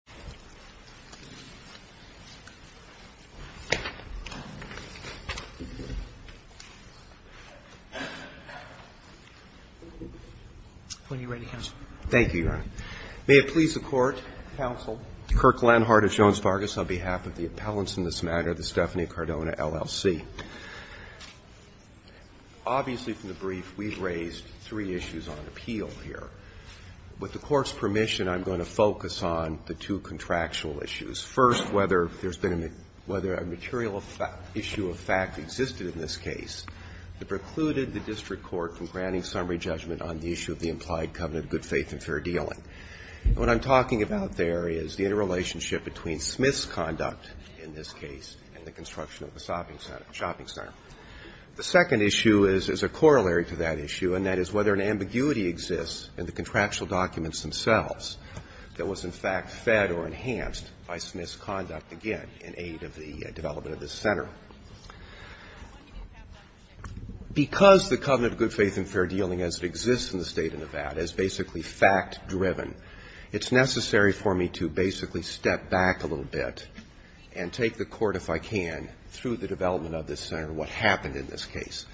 and Drug Enforcement Act. Thank you, Your Honor. When you're ready, counsel. Thank you, Your Honor. May it please the Court, counsel, Kirk Lenhardt of Jones-Fargus, on behalf of the appellants in this matter, the Stephanie-Cardona LLC. Obviously from the brief, we've raised three issues on appeal here. With the Court's permission, I'm going to focus on the two contractual issues. First, whether there's been a material issue of fact that existed in this case that precluded the district court from granting summary judgment on the issue of the implied covenant of good faith and fair dealing. What I'm talking about there is the interrelationship between Smith's conduct in this case and the construction of the shopping center. The second issue is a corollary to that issue, and that is whether an ambiguity exists in the contractual documents themselves that was in fact fed or enhanced by Smith's conduct, again, in aid of the development of this center. Because the covenant of good faith and fair dealing as it exists in the State of Nevada is basically fact-driven, it's necessary for me to basically step back a little bit and take the Court, if I can, through the development of this center, what happened in this case.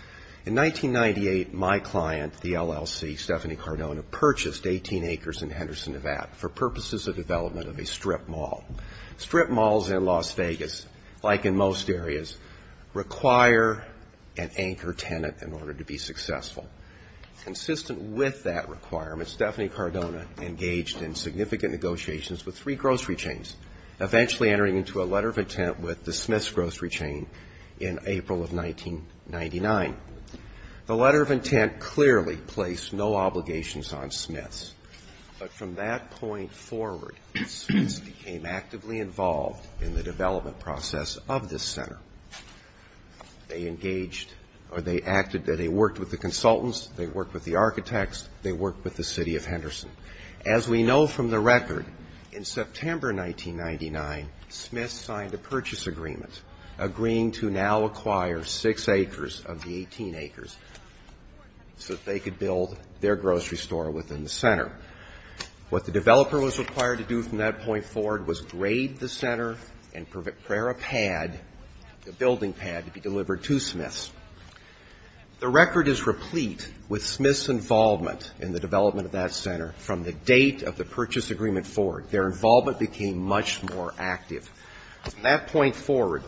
In 1998, my client, the LLC, Stephanie Cardona, purchased 18 acres in Henderson, Nevada for purposes of development of a strip mall. Strip malls in Las Vegas, like in most areas, require an anchor tenant in order to be successful. Consistent with that requirement, Stephanie Cardona engaged in significant negotiations with three grocery chains, eventually entering into a letter of intent with the Smith's in 1999. The letter of intent clearly placed no obligations on Smith's. But from that point forward, Smith's became actively involved in the development process of this center. They engaged, or they acted, they worked with the consultants, they worked with the architects, they worked with the City of Henderson. As we know from the record, in September 1999, Smith's signed a purchase agreement, agreeing to now acquire six acres of the 18 acres so that they could build their grocery store within the center. What the developer was required to do from that point forward was grade the center and prepare a pad, a building pad, to be delivered to Smith's. The record is replete with Smith's involvement in the development of that center from the date of the purchase agreement forward. Their involvement became much more active. From that point forward,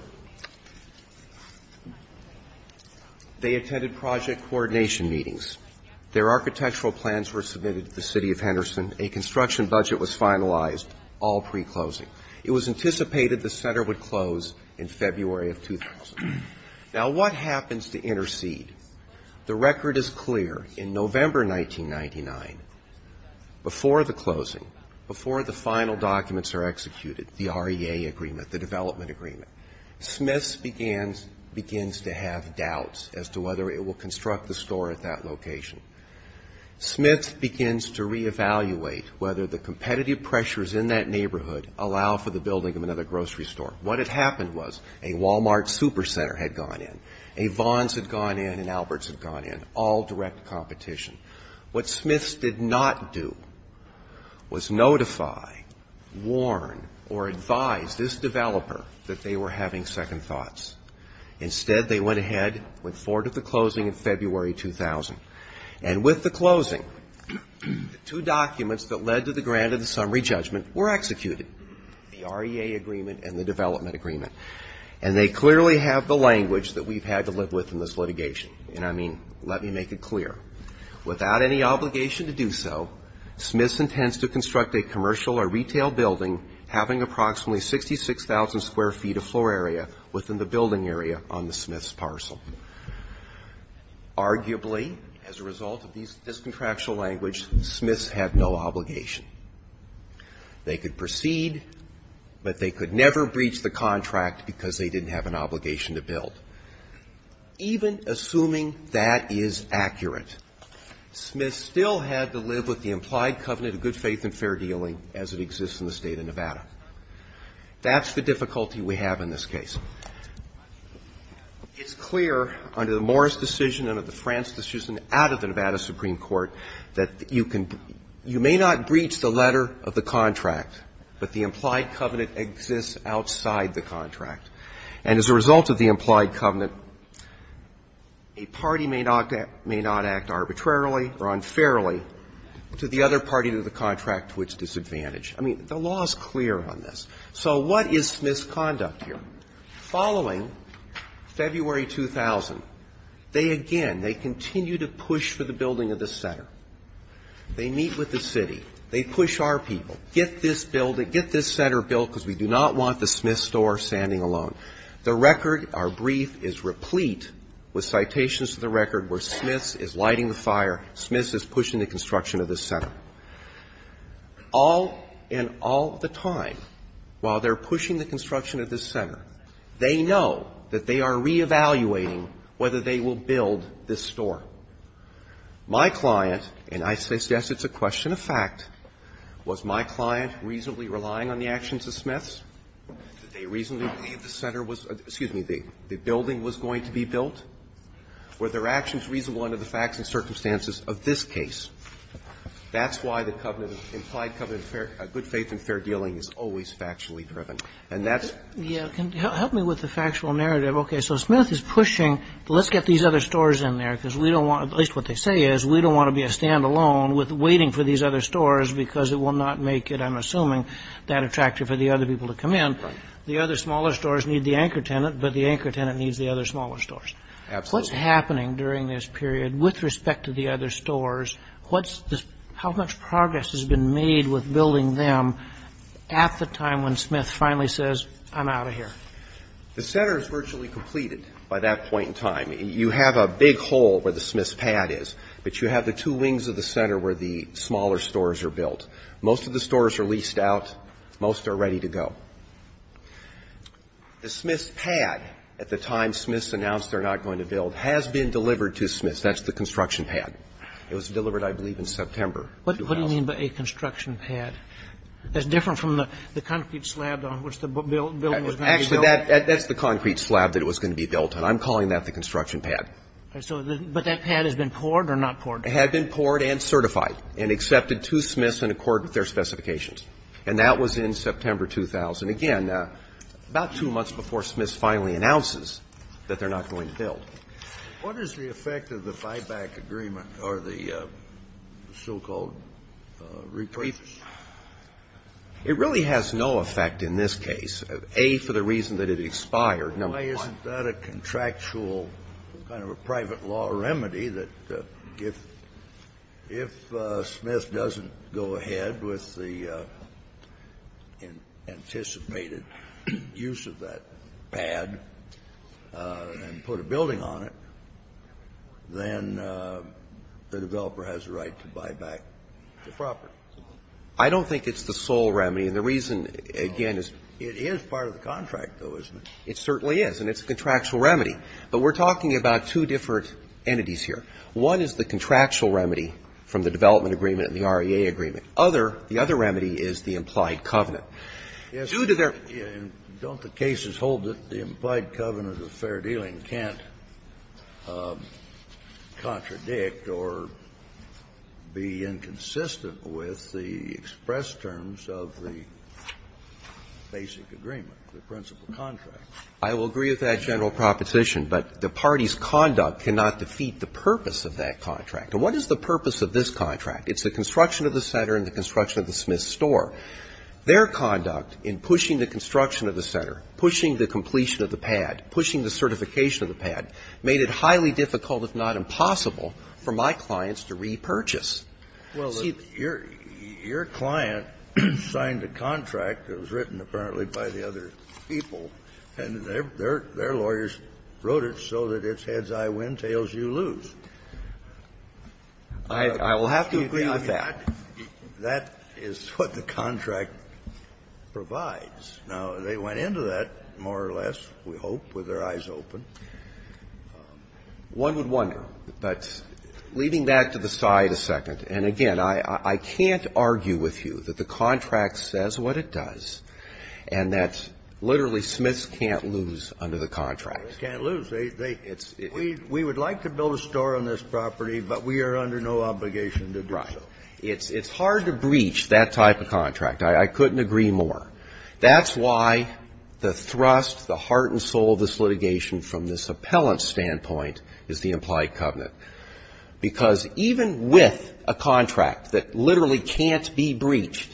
they attended project coordination meetings. Their architectural plans were submitted to the City of Henderson. A construction budget was finalized, all pre-closing. It was anticipated the center would close in February of 2000. Now, what happens to intercede? The record is clear. In November 1999, before the closing, before the final documents are executed, the REA agreement, the development agreement, Smith's begins to have doubts as to whether it will construct the store at that location. Smith's begins to reevaluate whether the competitive pressures in that neighborhood allow for the building of another grocery store. What had happened was a Walmart super center had gone in, a Vons had gone in, an Alberts had gone in, all direct competition. What Smith's did not do was notify, warn, or advise this developer that they were having second thoughts. Instead, they went ahead, went forward with the closing in February 2000. And with the closing, the two documents that led to the grant of the summary judgment were executed, the REA agreement and the development agreement. And they clearly have the language that we've had to live with in this litigation. And I mean, let me make it clear. Without any obligation to do so, Smith's intends to construct a commercial or retail building having approximately 66,000 square feet of floor area within the building area on the Smith's parcel. Arguably, as a result of this contractual language, Smith's had no obligation. They could proceed, but they could never breach the contract because they didn't have an obligation to build. Even assuming that is accurate, Smith's still had to live with the implied covenant of good faith and fair dealing as it exists in the State of Nevada. That's the difficulty we have in this case. It's clear under the Morris decision and under the France decision out of the Nevada Supreme Court that you can – you may not breach the letter of the contract, but the implied covenant exists outside the contract. And as a result of the implied covenant, a party may not act arbitrarily or unfairly to the other party to the contract to its disadvantage. I mean, the law is clear on this. So what is Smith's conduct here? Following February 2000, they again, they continue to push for the building of the center. They meet with the city. They push our people. Get this building, get this center built because we do not want the Smith's store standing alone. The record, our brief, is replete with citations to the record where Smith's is lighting the fire, Smith's is pushing the construction of this center. All and all the time, while they're pushing the construction of this center, they know that they are reevaluating whether they will build this store. My client, and I suggest it's a question of fact, was my client reasonably relying on the actions of Smith's? Did they reasonably believe the center was – excuse me, the building was going to be built? Were their actions reasonable under the facts and circumstances of this case? That's why the covenant, implied covenant of good faith and fair dealing is always factually driven. And that's the reason. Kagan, help me with the factual narrative. Okay, so Smith is pushing, let's get these other stores in there because we don't want – at least what they say is we don't want to be a standalone with waiting for these other stores because it will not make it, I'm assuming, that attractive for the other people to come in. Right. The other smaller stores need the anchor tenant, but the anchor tenant needs the other smaller stores. Absolutely. What's happening during this period with respect to the other stores? What's this – how much progress has been made with building them at the time when Smith finally says, I'm out of here? The center is virtually completed by that point in time. You have a big hole where the Smith's pad is, but you have the two wings of the center where the smaller stores are built. Most of the stores are leased out. Most are ready to go. The Smith's pad, at the time Smith's announced they're not going to build, has been delivered to Smith's. That's the construction pad. It was delivered, I believe, in September. What do you mean by a construction pad? That's different from the concrete slab on which the building was going to be built. Actually, that's the concrete slab that was going to be built. And I'm calling that the construction pad. But that pad has been poured or not poured? It had been poured and certified and accepted to Smith's in accord with their specifications. And that was in September 2000. Again, about two months before Smith's finally announces that they're not going to build. What is the effect of the buyback agreement or the so-called reprieve? It really has no effect in this case. A, for the reason that it expired. Number one. Why isn't that a contractual kind of a private law remedy that if Smith doesn't go ahead with the anticipated use of that pad and put a building on it, then the developer has a right to buy back the property? I don't think it's the sole remedy. The reason, again, is. It is part of the contract, though, isn't it? It certainly is. And it's a contractual remedy. But we're talking about two different entities here. One is the contractual remedy from the development agreement and the REA agreement. Other, the other remedy is the implied covenant. Due to their. Don't the cases hold that the implied covenant of fair dealing can't contradict or be inconsistent with the express terms of the basic agreement, the principal contract? I will agree with that general proposition. But the party's conduct cannot defeat the purpose of that contract. And what is the purpose of this contract? It's the construction of the center and the construction of the Smith store. Their conduct in pushing the construction of the center, pushing the completion of the pad, pushing the certification of the pad, made it highly difficult, if not impossible, for my clients to repurchase. Well, your client signed a contract that was written, apparently, by the other people. And their lawyers wrote it so that it's heads I win, tails you lose. I will have to agree with that. That is what the contract provides. Now, they went into that, more or less, we hope, with their eyes open. One would wonder, but leading back to the side a second, and again, I can't argue with you that the contract says what it does and that literally Smiths can't lose under the contract. They can't lose. We would like to build a store on this property, but we are under no obligation to do so. Right. It's hard to breach that type of contract. I couldn't agree more. That's why the thrust, the heart and soul of this litigation, from this appellant's standpoint, is the implied covenant. Because even with a contract that literally can't be breached,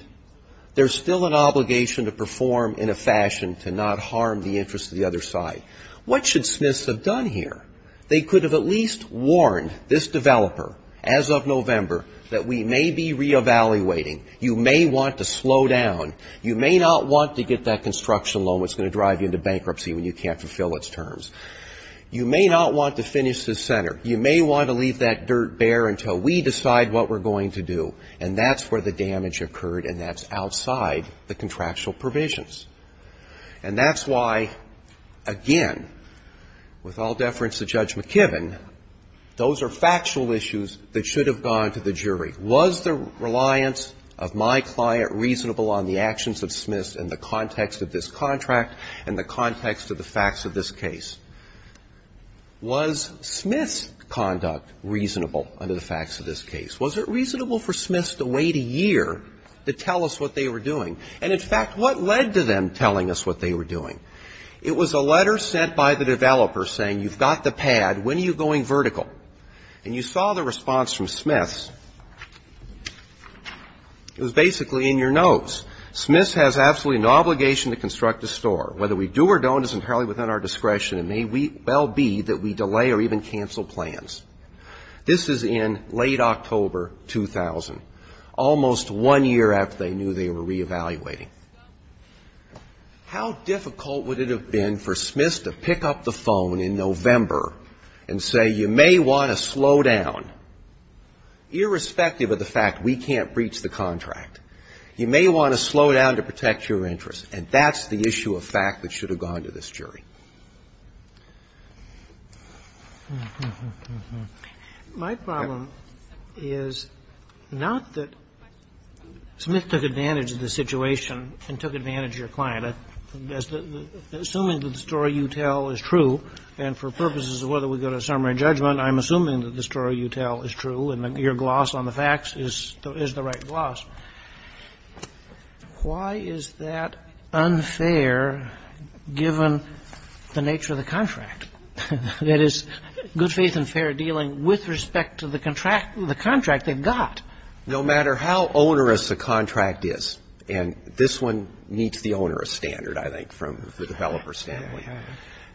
there's still an obligation to perform in a fashion to not harm the interests of the other side. What should Smiths have done here? They could have at least warned this developer, as of November, that we may be re-evaluating. You may want to slow down. You may not want to get that construction loan that's going to drive you into bankruptcy when you can't fulfill its terms. You may not want to finish this center. You may want to leave that dirt bare until we decide what we're going to do, and that's where the damage occurred, and that's outside the contractual provisions. And that's why, again, with all deference to Judge McKibben, those are factual issues that should have gone to the jury. Was the reliance of my client reasonable on the actions of Smiths in the context of this contract and the context of the facts of this case? Was Smith's conduct reasonable under the facts of this case? Was it reasonable for Smiths to wait a year to tell us what they were doing? And, in fact, what led to them telling us what they were doing? It was a letter sent by the developer saying, you've got the pad. When are you going vertical? And you saw the response from Smiths. It was basically in your notes. Smiths has absolutely no obligation to construct a store. Whether we do or don't is entirely within our discretion, and may well be that we delay or even cancel plans. This is in late October 2000, almost one year after they knew they were reevaluating. How difficult would it have been for Smiths to pick up the phone in November and say, you may want to slow down, irrespective of the fact we can't breach the contract. You may want to slow down to protect your interests. And that's the issue of fact that should have gone to this jury. My problem is not that Smith took advantage of the situation and took advantage of your client. Assuming that the story you tell is true and for purposes of whether we go to a summary judgment, I'm assuming that the story you tell is true and your gloss on the facts is the right gloss. Why is that unfair, given the nature of the contract? That is, good faith and fair dealing with respect to the contract they've got. No matter how onerous a contract is, and this one meets the onerous standard, I think, from the developer's standpoint.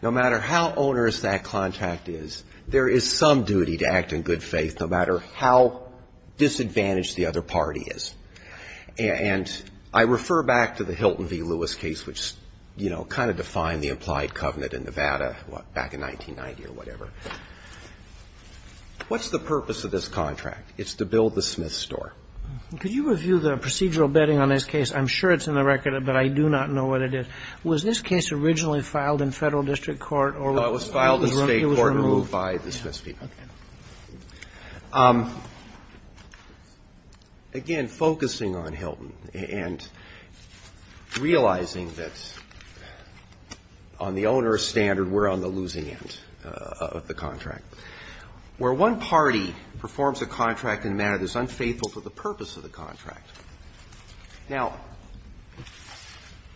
No matter how onerous that contract is, there is some duty to act in good faith, no matter how disadvantaged the other party is. And I refer back to the Hilton v. Lewis case, which, you know, kind of defined the implied covenant in Nevada back in 1990 or whatever. What's the purpose of this contract? It's to build the Smith store. Could you review the procedural betting on this case? I'm sure it's in the record, but I do not know what it is. Was this case originally filed in Federal district court or was it removed? It was filed in State court and removed by the Smith people. Okay. Again, focusing on Hilton and realizing that on the onerous standard, we're on the losing end of the contract. Where one party performs a contract in a manner that's unfaithful to the purpose of the contract. Now,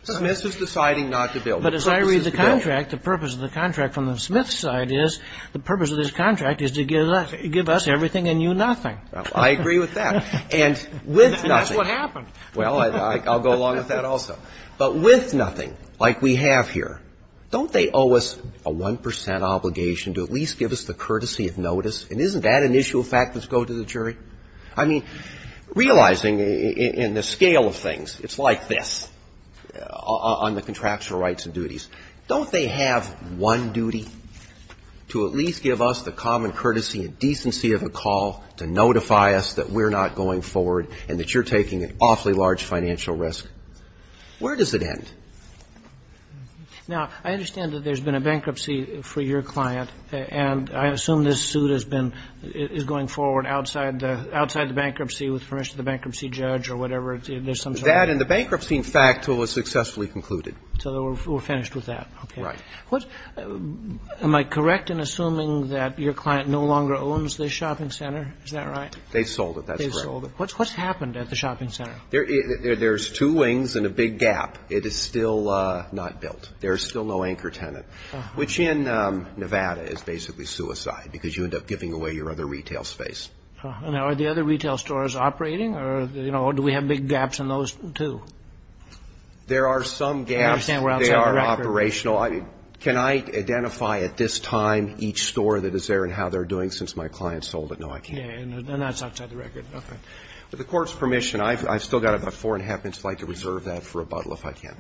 Smith is deciding not to build it. But as I read the contract, the purpose of the contract from the Smith side is the purpose of this contract is to give us everything and you nothing. I agree with that. And with nothing. And that's what happened. Well, I'll go along with that also. But with nothing, like we have here, don't they owe us a 1 percent obligation to at least give us the courtesy of notice? And isn't that an issue of fact that's going to the jury? I mean, realizing in the scale of things, it's like this, on the contractual rights and duties. Don't they have one duty? To at least give us the common courtesy and decency of a call to notify us that we're not going forward and that you're taking an awfully large financial risk. Where does it end? Now, I understand that there's been a bankruptcy for your client and I assume this bankruptcy with permission of the bankruptcy judge or whatever. That and the bankruptcy, in fact, was successfully concluded. So we're finished with that. Right. Am I correct in assuming that your client no longer owns this shopping center? Is that right? They sold it. That's correct. They sold it. What's happened at the shopping center? There's two wings and a big gap. It is still not built. There's still no anchor tenant, which in Nevada is basically suicide because you end up giving away your other retail space. Now, are the other retail stores operating or do we have big gaps in those, too? There are some gaps. I understand we're outside the record. They are operational. Can I identify at this time each store that is there and how they're doing since my client sold it? No, I can't. And that's outside the record. Okay. With the Court's permission, I've still got about four and a half minutes. I'd like to reserve that for rebuttal if I can.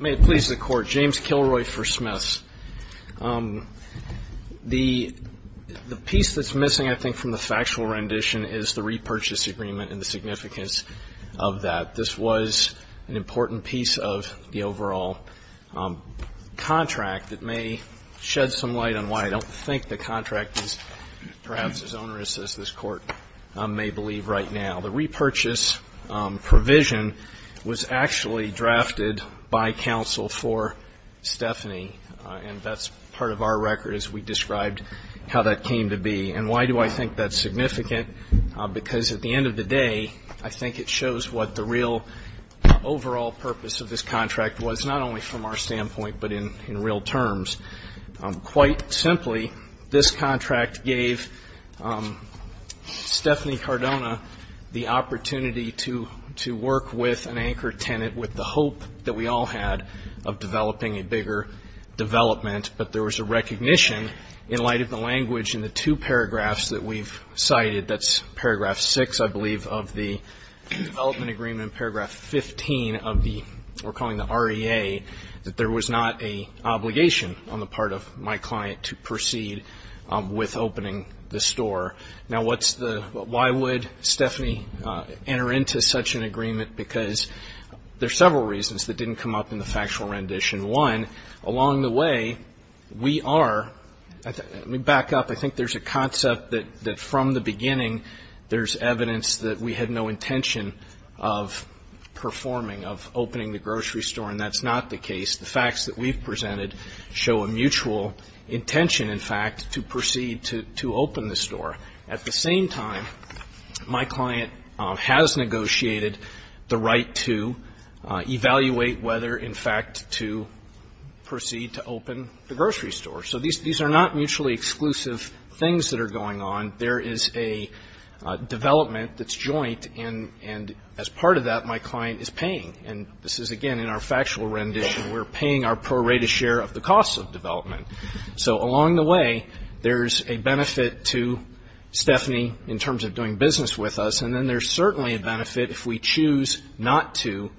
May it please the Court. James Kilroy for Smiths. The piece that's missing, I think, from the factual rendition is the repurchase agreement and the significance of that. This was an important piece of the overall contract that may shed some light on why I don't think the contract is perhaps as onerous as this Court may believe right now. The repurchase provision was actually drafted by counsel for Stephanie, and that's part of our record as we described how that came to be. And why do I think that's significant? Because at the end of the day, I think it shows what the real overall purpose of this contract was, not only from our standpoint but in real terms. Quite simply, this contract gave Stephanie Cardona the opportunity to work with an anchor tenant with the hope that we all had of developing a bigger development. But there was a recognition in light of the language in the two paragraphs that we've cited, that's paragraph 6, I believe, of the development agreement, and paragraph 15 of the, we're calling the REA, that there was not an obligation on the part of my client to proceed with opening the store. Now, why would Stephanie enter into such an agreement? Because there are several reasons that didn't come up in the factual rendition. One, along the way, we are, let me back up, I think there's a concept that from the beginning there's evidence that we had no intention of performing, of opening the grocery store, and that's not the case. The facts that we've presented show a mutual intention, in fact, to proceed to open the store. At the same time, my client has negotiated the right to evaluate whether, in fact, to proceed to open the grocery store. So these are not mutually exclusive things that are going on. There is a development that's joint, and as part of that, my client is paying. And this is, again, in our factual rendition, we're paying our prorated share of the costs of development. So along the way, there's a benefit to Stephanie in terms of doing business with us, and then there's certainly a benefit if we choose not to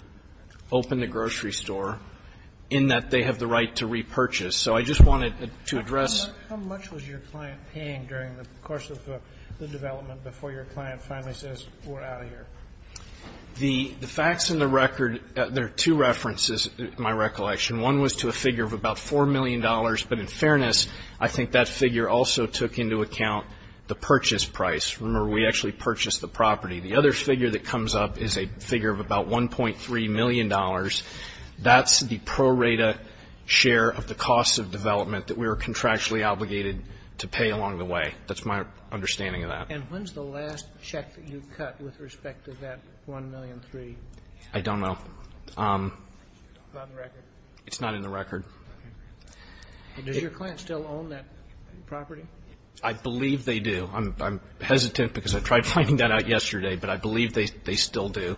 open the grocery store, in that they have the right to repurchase. So I just wanted to address. How much was your client paying during the course of the development before your client finally says, we're out of here? The facts and the record, there are two references, in my recollection. One was to a figure of about $4 million, but in fairness, I think that figure also took into account the purchase price. Remember, we actually purchased the property. The other figure that comes up is a figure of about $1.3 million. That's the prorated share of the costs of development that we were contractually obligated to pay along the way. That's my understanding of that. And when's the last check that you cut with respect to that $1.3 million? I don't know. Not in the record? It's not in the record. Does your client still own that property? I believe they do. I'm hesitant because I tried finding that out yesterday, but I believe they still do.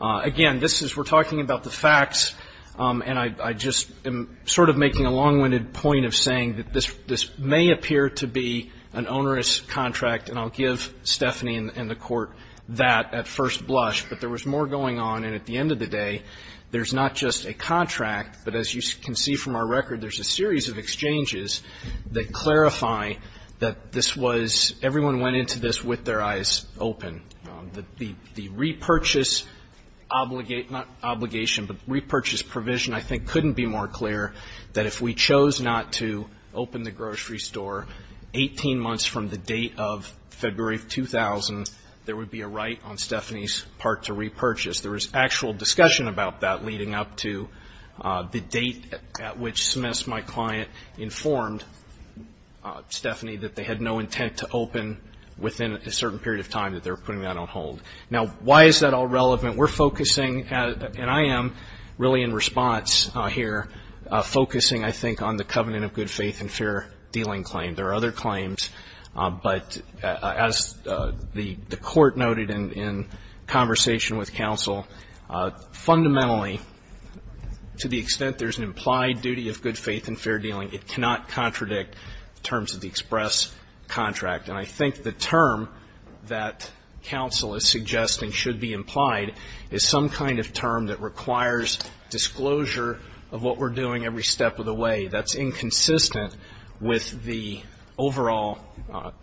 Again, this is we're talking about the facts, and I just am sort of making a long-winded point of saying that this may appear to be an onerous contract, and I'll give Stephanie and the Court that at first blush. But there was more going on, and at the end of the day, there's not just a contract, but as you can see from our record, there's a series of exchanges that clarify that this was, everyone went into this with their eyes open. The repurchase obligation, not obligation, but repurchase provision I think couldn't be more clear that if we chose not to open the grocery store 18 months from the date of February of 2000, there would be a right on Stephanie's part to repurchase. There was actual discussion about that leading up to the date at which Smith's, my client, informed Stephanie that they had no intent to open within a certain period of time that they were putting that on hold. Now, why is that all relevant? We're focusing, and I am really in response here, focusing, I think, on the covenant of good faith and fair dealing claim. There are other claims, but as the Court noted in conversation with counsel, fundamentally, to the extent there's an implied duty of good faith and fair dealing, it cannot contradict terms of the express contract. And I think the term that counsel is suggesting should be implied is some kind of term that requires disclosure of what we're doing every step of the way. That's inconsistent with the overall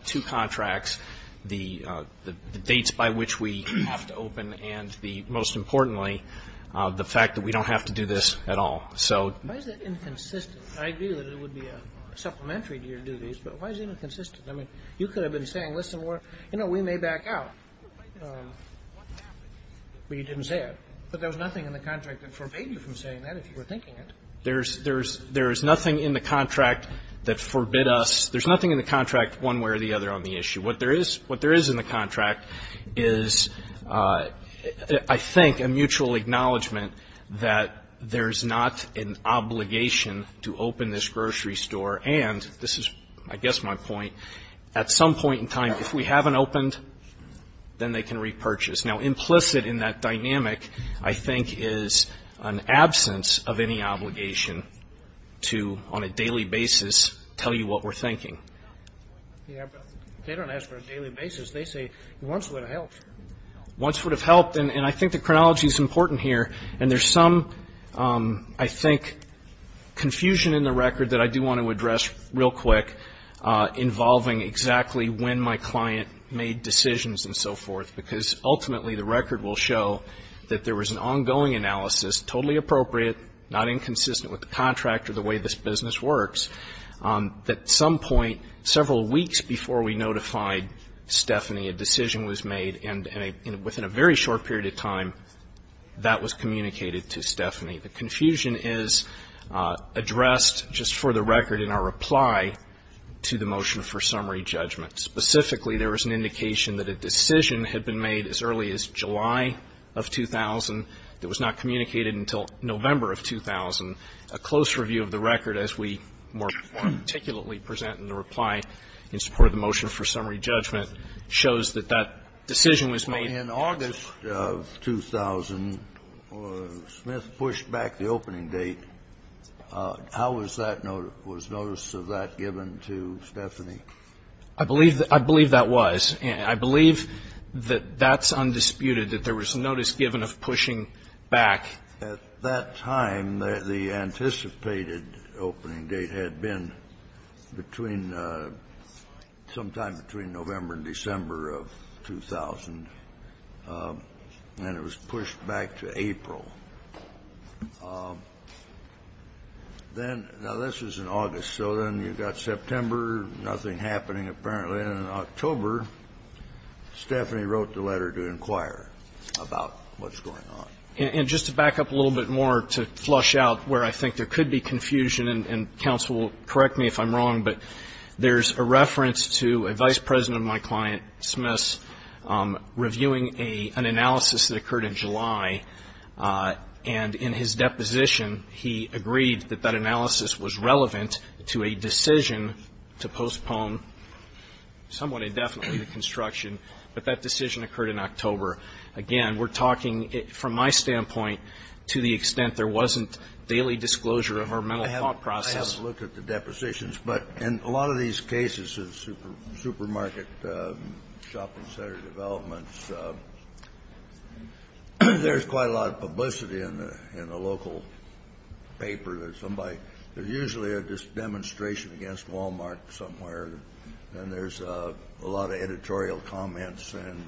two contracts, the dates by which we have to open, and most importantly, the fact that we don't have to do this at all. Why is that inconsistent? I agree that it would be a supplementary to your duties, but why is it inconsistent? I mean, you could have been saying, listen, we may back out, but you didn't say it. But there was nothing in the contract that forbade you from saying that if you were thinking it. There is nothing in the contract that forbid us. There's nothing in the contract one way or the other on the issue. What there is, what there is in the contract is, I think, a mutual acknowledgment that there's not an obligation to open this grocery store, and this is, I guess, my point, at some point in time, if we haven't opened, then they can repurchase. Now, implicit in that dynamic, I think, is an absence of any obligation to, on a daily basis, tell you what we're thinking. Yeah, but they don't ask for a daily basis. They say once would have helped. Once would have helped, and I think the chronology is important here, and there's some, I think, confusion in the record that I do want to address real quick, involving exactly when my client made decisions and so forth, because ultimately the record will show that there was an ongoing analysis, totally appropriate, not inconsistent with the contract or the way this business works, that at some point several weeks before we notified Stephanie a decision was made, and within a very short period of time that was communicated to Stephanie. The confusion is addressed just for the record in our reply to the motion for summary judgment. Specifically, there was an indication that a decision had been made as early as July of 2000 that was not communicated until November of 2000. A close review of the record, as we more articulately present in the reply in support of the motion for summary judgment, shows that that decision was made. In August of 2000, Smith pushed back the opening date. How was that notice of that given to Stephanie? I believe that was. I believe that that's undisputed, that there was notice given of pushing back. At that time, the anticipated opening date had been between sometime between November and December of 2000, and it was pushed back to April. Then, now, this was in August. So then you've got September, nothing happening apparently. And in October, Stephanie wrote the letter to inquire about what's going on. And just to back up a little bit more to flush out where I think there could be confusion, and counsel, correct me if I'm wrong, but there's a reference to a vice president of my client, Smith, reviewing an analysis that occurred in July. And in his deposition, he agreed that that analysis was relevant to a decision to postpone somewhat indefinitely the construction, but that decision occurred in October. Again, we're talking, from my standpoint, to the extent there wasn't daily disclosure of our mental thought process. I haven't looked at the depositions. But in a lot of these cases, the supermarket shopping center developments, there's quite a lot of publicity in the local paper. There's somebody, there's usually a demonstration against Walmart somewhere, and there's a lot of editorial comments and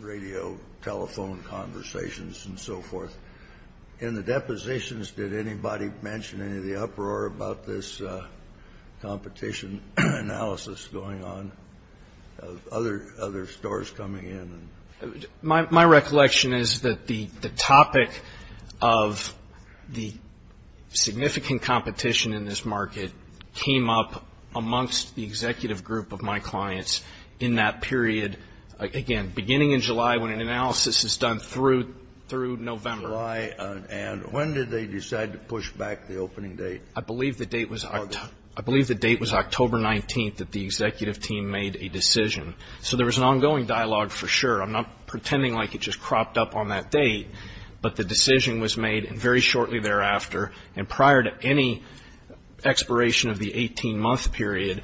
radio telephone conversations and so forth. In the depositions, did anybody mention any of the uproar about this competition analysis going on, of other stores coming in? My recollection is that the topic of the significant competition in this market came up amongst the executive group of my clients in that period, again, beginning in July when an analysis is done through November. And when did they decide to push back the opening date? I believe the date was October 19th that the executive team made a decision. So there was an ongoing dialogue, for sure. I'm not pretending like it just cropped up on that date, but the decision was made very shortly thereafter. And prior to any expiration of the 18-month period,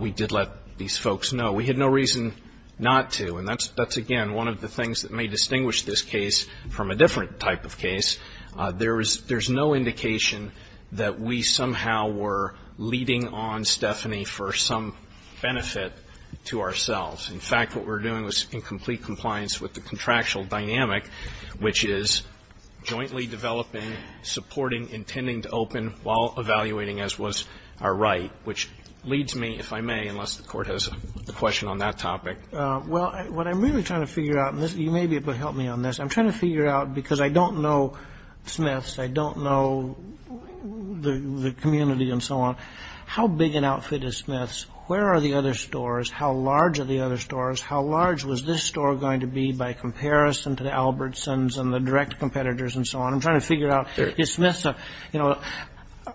we did let these folks know. We had no reason not to. And that's, again, one of the things that may distinguish this case from a different type of case. There's no indication that we somehow were leading on Stephanie for some benefit to ourselves. In fact, what we were doing was in complete compliance with the contractual dynamic, which is jointly developing, supporting, intending to open while evaluating, as was our right, which leads me, if I may, unless the Court has a question on that topic. Well, what I'm really trying to figure out, and you may be able to help me on this, I'm trying to figure out, because I don't know Smith's, I don't know the community and so on, how big an outfit is Smith's? Where are the other stores? How large are the other stores? How large was this store going to be by comparison to the Albertsons and the direct competitors and so on? I'm trying to figure out, is Smith's a, you know,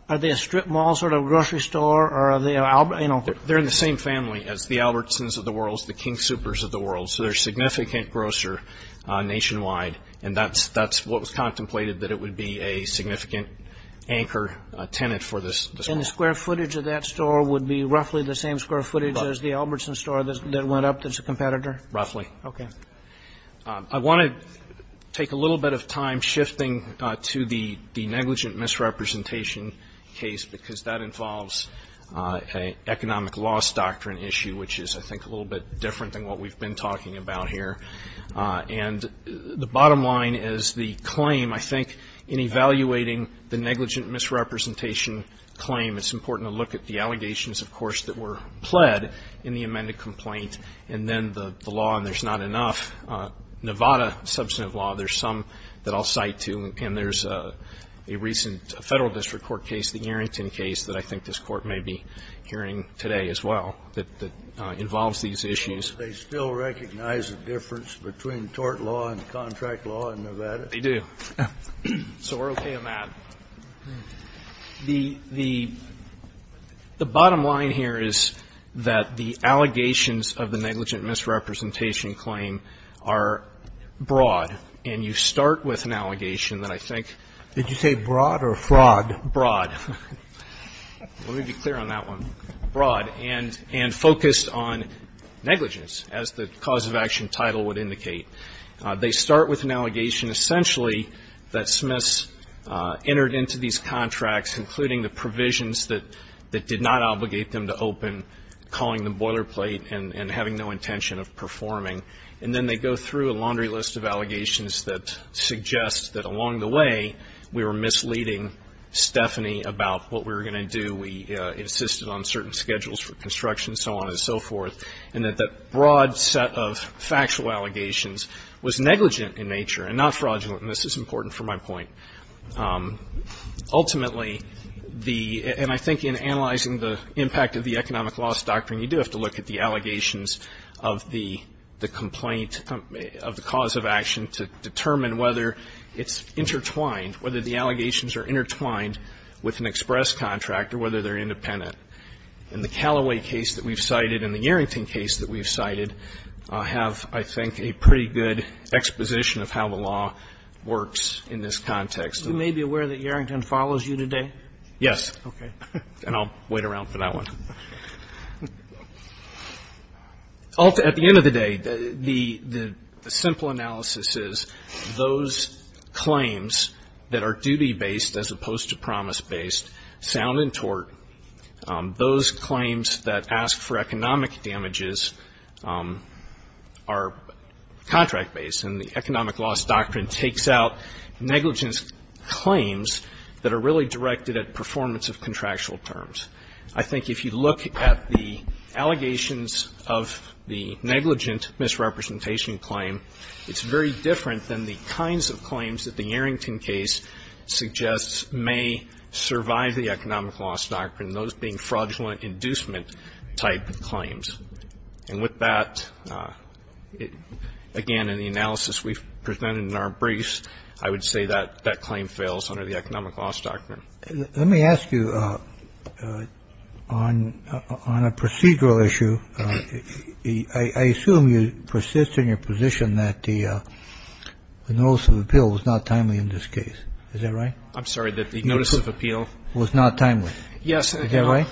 are they a strip mall sort of grocery store? They're in the same family as the Albertsons of the world, the King Soopers of the world. So they're a significant grocer nationwide. And that's what was contemplated, that it would be a significant anchor tenant for this mall. And the square footage of that store would be roughly the same square footage as the Albertsons store that went up that's a competitor? Roughly. Okay. I want to take a little bit of time shifting to the negligent misrepresentation case because that involves an economic loss doctrine issue, which is, I think, a little bit different than what we've been talking about here. And the bottom line is the claim, I think, in evaluating the negligent misrepresentation claim, it's important to look at the allegations, of course, that were pled in the amended complaint, and then the law, and there's not enough. Nevada substantive law, there's some that I'll cite too, and there's a recent federal district court case, the Arrington case, that I think this Court may be hearing today as well, that involves these issues. They still recognize the difference between tort law and contract law in Nevada? They do. So we're okay on that. The bottom line here is that the allegations of the negligent misrepresentation claim are broad, and you start with an allegation that I think. Did you say broad or fraud? Broad. Let me be clear on that one. Broad, and focused on negligence, as the cause of action title would indicate. They start with an allegation, essentially, that Smiths entered into these contracts, including the provisions that did not obligate them to open, calling them boilerplate and having no intention of performing. And then they go through a laundry list of allegations that suggests that along the way, we were misleading Stephanie about what we were going to do. We insisted on certain schedules for construction, so on and so forth, and that that broad set of factual allegations was negligent in nature and not fraudulent, and this is important for my point. Ultimately, and I think in analyzing the impact of the economic loss doctrine, you do have to look at the allegations of the complaint, of the cause of action, to determine whether it's intertwined, whether the allegations are intertwined with an express contract or whether they're independent. And the Callaway case that we've cited and the Yarrington case that we've cited have, I think, a pretty good exposition of how the law works in this context. You may be aware that Yarrington follows you today? Yes. Okay. And I'll wait around for that one. At the end of the day, the simple analysis is those claims that are duty-based as opposed to promise-based, sound and tort, those claims that ask for economic damages are contract-based, and the economic loss doctrine takes out negligence claims that are really directed at performance of contractual terms. I think if you look at the allegations of the negligent misrepresentation claim, it's very different than the kinds of claims that the Yarrington case suggests may survive the economic loss doctrine, those being fraudulent inducement type claims. And with that, again, in the analysis we've presented in our briefs, I would say that that claim fails under the economic loss doctrine. Let me ask you on a procedural issue. I assume you persist in your position that the notice of appeal was not timely in this case. Is that right? I'm sorry, that the notice of appeal was not timely. Yes. Is that right?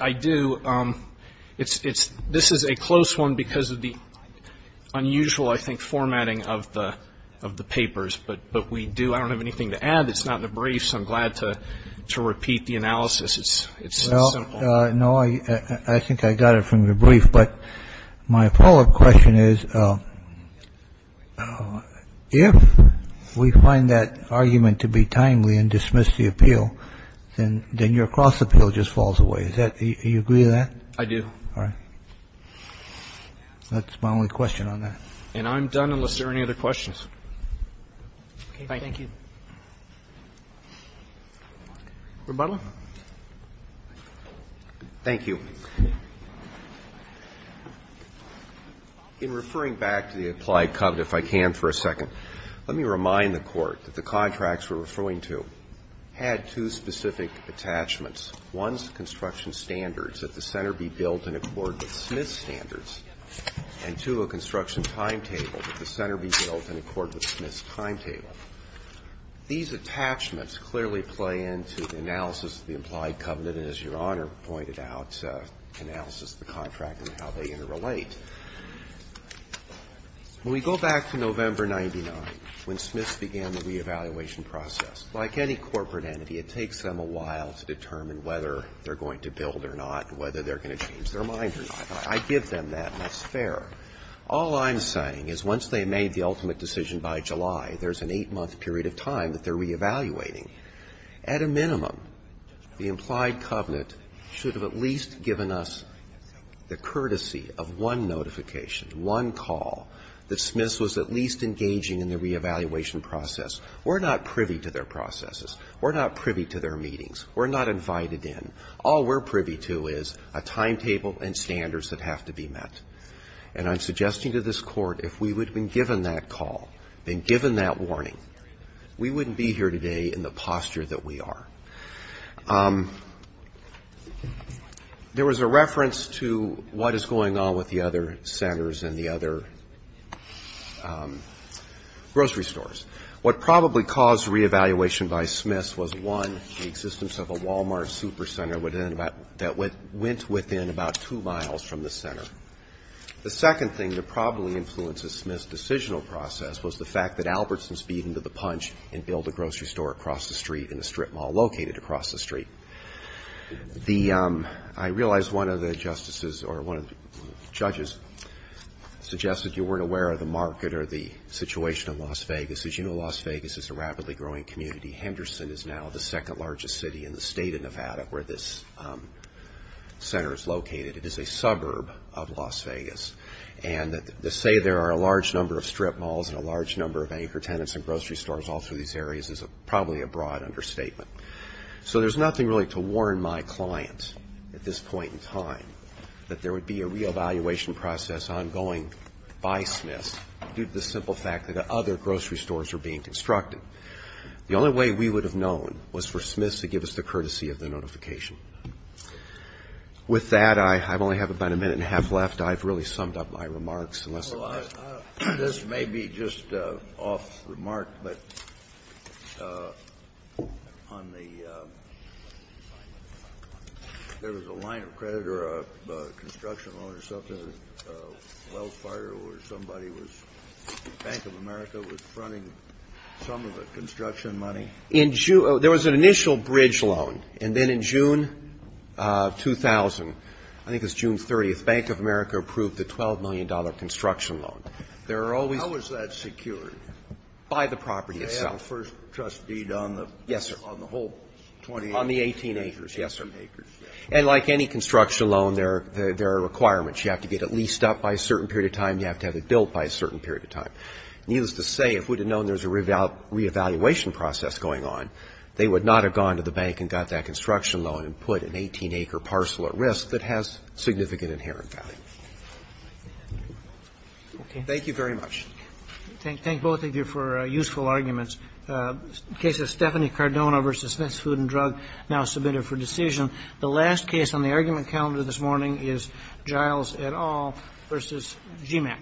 I do. It's this is a close one because of the unusual, I think, formatting of the papers. I don't have anything to add. It's not in the brief. I'm glad to repeat the analysis. It's simple. No. I think I got it from your brief. But my follow-up question is, if we find that argument to be timely and dismiss the appeal, then your cross-appeal just falls away. Do you agree with that? I do. All right. That's my only question on that. And I'm done unless there are any other questions. Thank you. Mr. Butler. Thank you. In referring back to the applied covenant, if I can for a second, let me remind the Court that the contracts we're referring to had two specific attachments. One's construction standards, that the center be built in accord with Smith's standards. And two, a construction timetable, that the center be built in accord with Smith's standards. These attachments clearly play into the analysis of the implied covenant and, as Your Honor pointed out, analysis of the contract and how they interrelate. When we go back to November 99, when Smith's began the reevaluation process, like any corporate entity, it takes them a while to determine whether they're going to build or not, whether they're going to change their mind or not. I give them that, and it's fair. All I'm saying is once they've made the ultimate decision by July, there's an eight-month period of time that they're reevaluating. At a minimum, the implied covenant should have at least given us the courtesy of one notification, one call, that Smith's was at least engaging in the reevaluation process. We're not privy to their processes. We're not privy to their meetings. We're not invited in. All we're privy to is a timetable and standards that have to be met. And I'm suggesting to this Court if we would have been given that call, been given that warning, we wouldn't be here today in the posture that we are. There was a reference to what is going on with the other centers and the other grocery stores. What probably caused reevaluation by Smith's was, one, the existence of a Walmart supercenter that went within about two miles from the center. The second thing that probably influenced the Smith's decisional process was the fact that Albertson's beat him to the punch and built a grocery store across the street and a strip mall located across the street. The ‑‑ I realize one of the justices or one of the judges suggested you weren't aware of the market or the situation in Las Vegas. As you know, Las Vegas is a rapidly growing community. Henderson is now the second largest city in the state of Nevada where this center is located. It is a suburb of Las Vegas. And to say there are a large number of strip malls and a large number of anchor tenants and grocery stores all through these areas is probably a broad understatement. So there's nothing really to warn my client at this point in time that there would be a reevaluation process ongoing by Smith's due to the simple fact that the other grocery stores were being constructed. The only way we would have known was for Smith's to give us the courtesy of the notification. With that, I only have about a minute and a half left. I've really summed up my remarks. Unless there are ‑‑ This may be just off remark, but on the ‑‑ there was a line of credit or a construction loan or something, a well fire where somebody was ‑‑ Bank of America was fronting some of the construction money. There was an initial bridge loan. And then in June 2000, I think it was June 30th, Bank of America approved the $12 million construction loan. There are always ‑‑ How was that secured? By the property itself. They had a first trust deed on the whole 20 acres? Yes, sir. On the 18 acres. Yes, sir. 18 acres. And like any construction loan, there are requirements. You have to get it leased up by a certain period of time. You have to have it built by a certain period of time. Needless to say, if we had known there was a reevaluation process going on, they would not have gone to the bank and got that construction loan and put an 18‑acre parcel at risk that has significant inherent value. Okay. Thank you very much. Thank both of you for useful arguments. The case of Stephanie Cardona v. Smith's Food and Drug now submitted for decision. The last case on the argument calendar this morning is Giles et al. v. GMAC.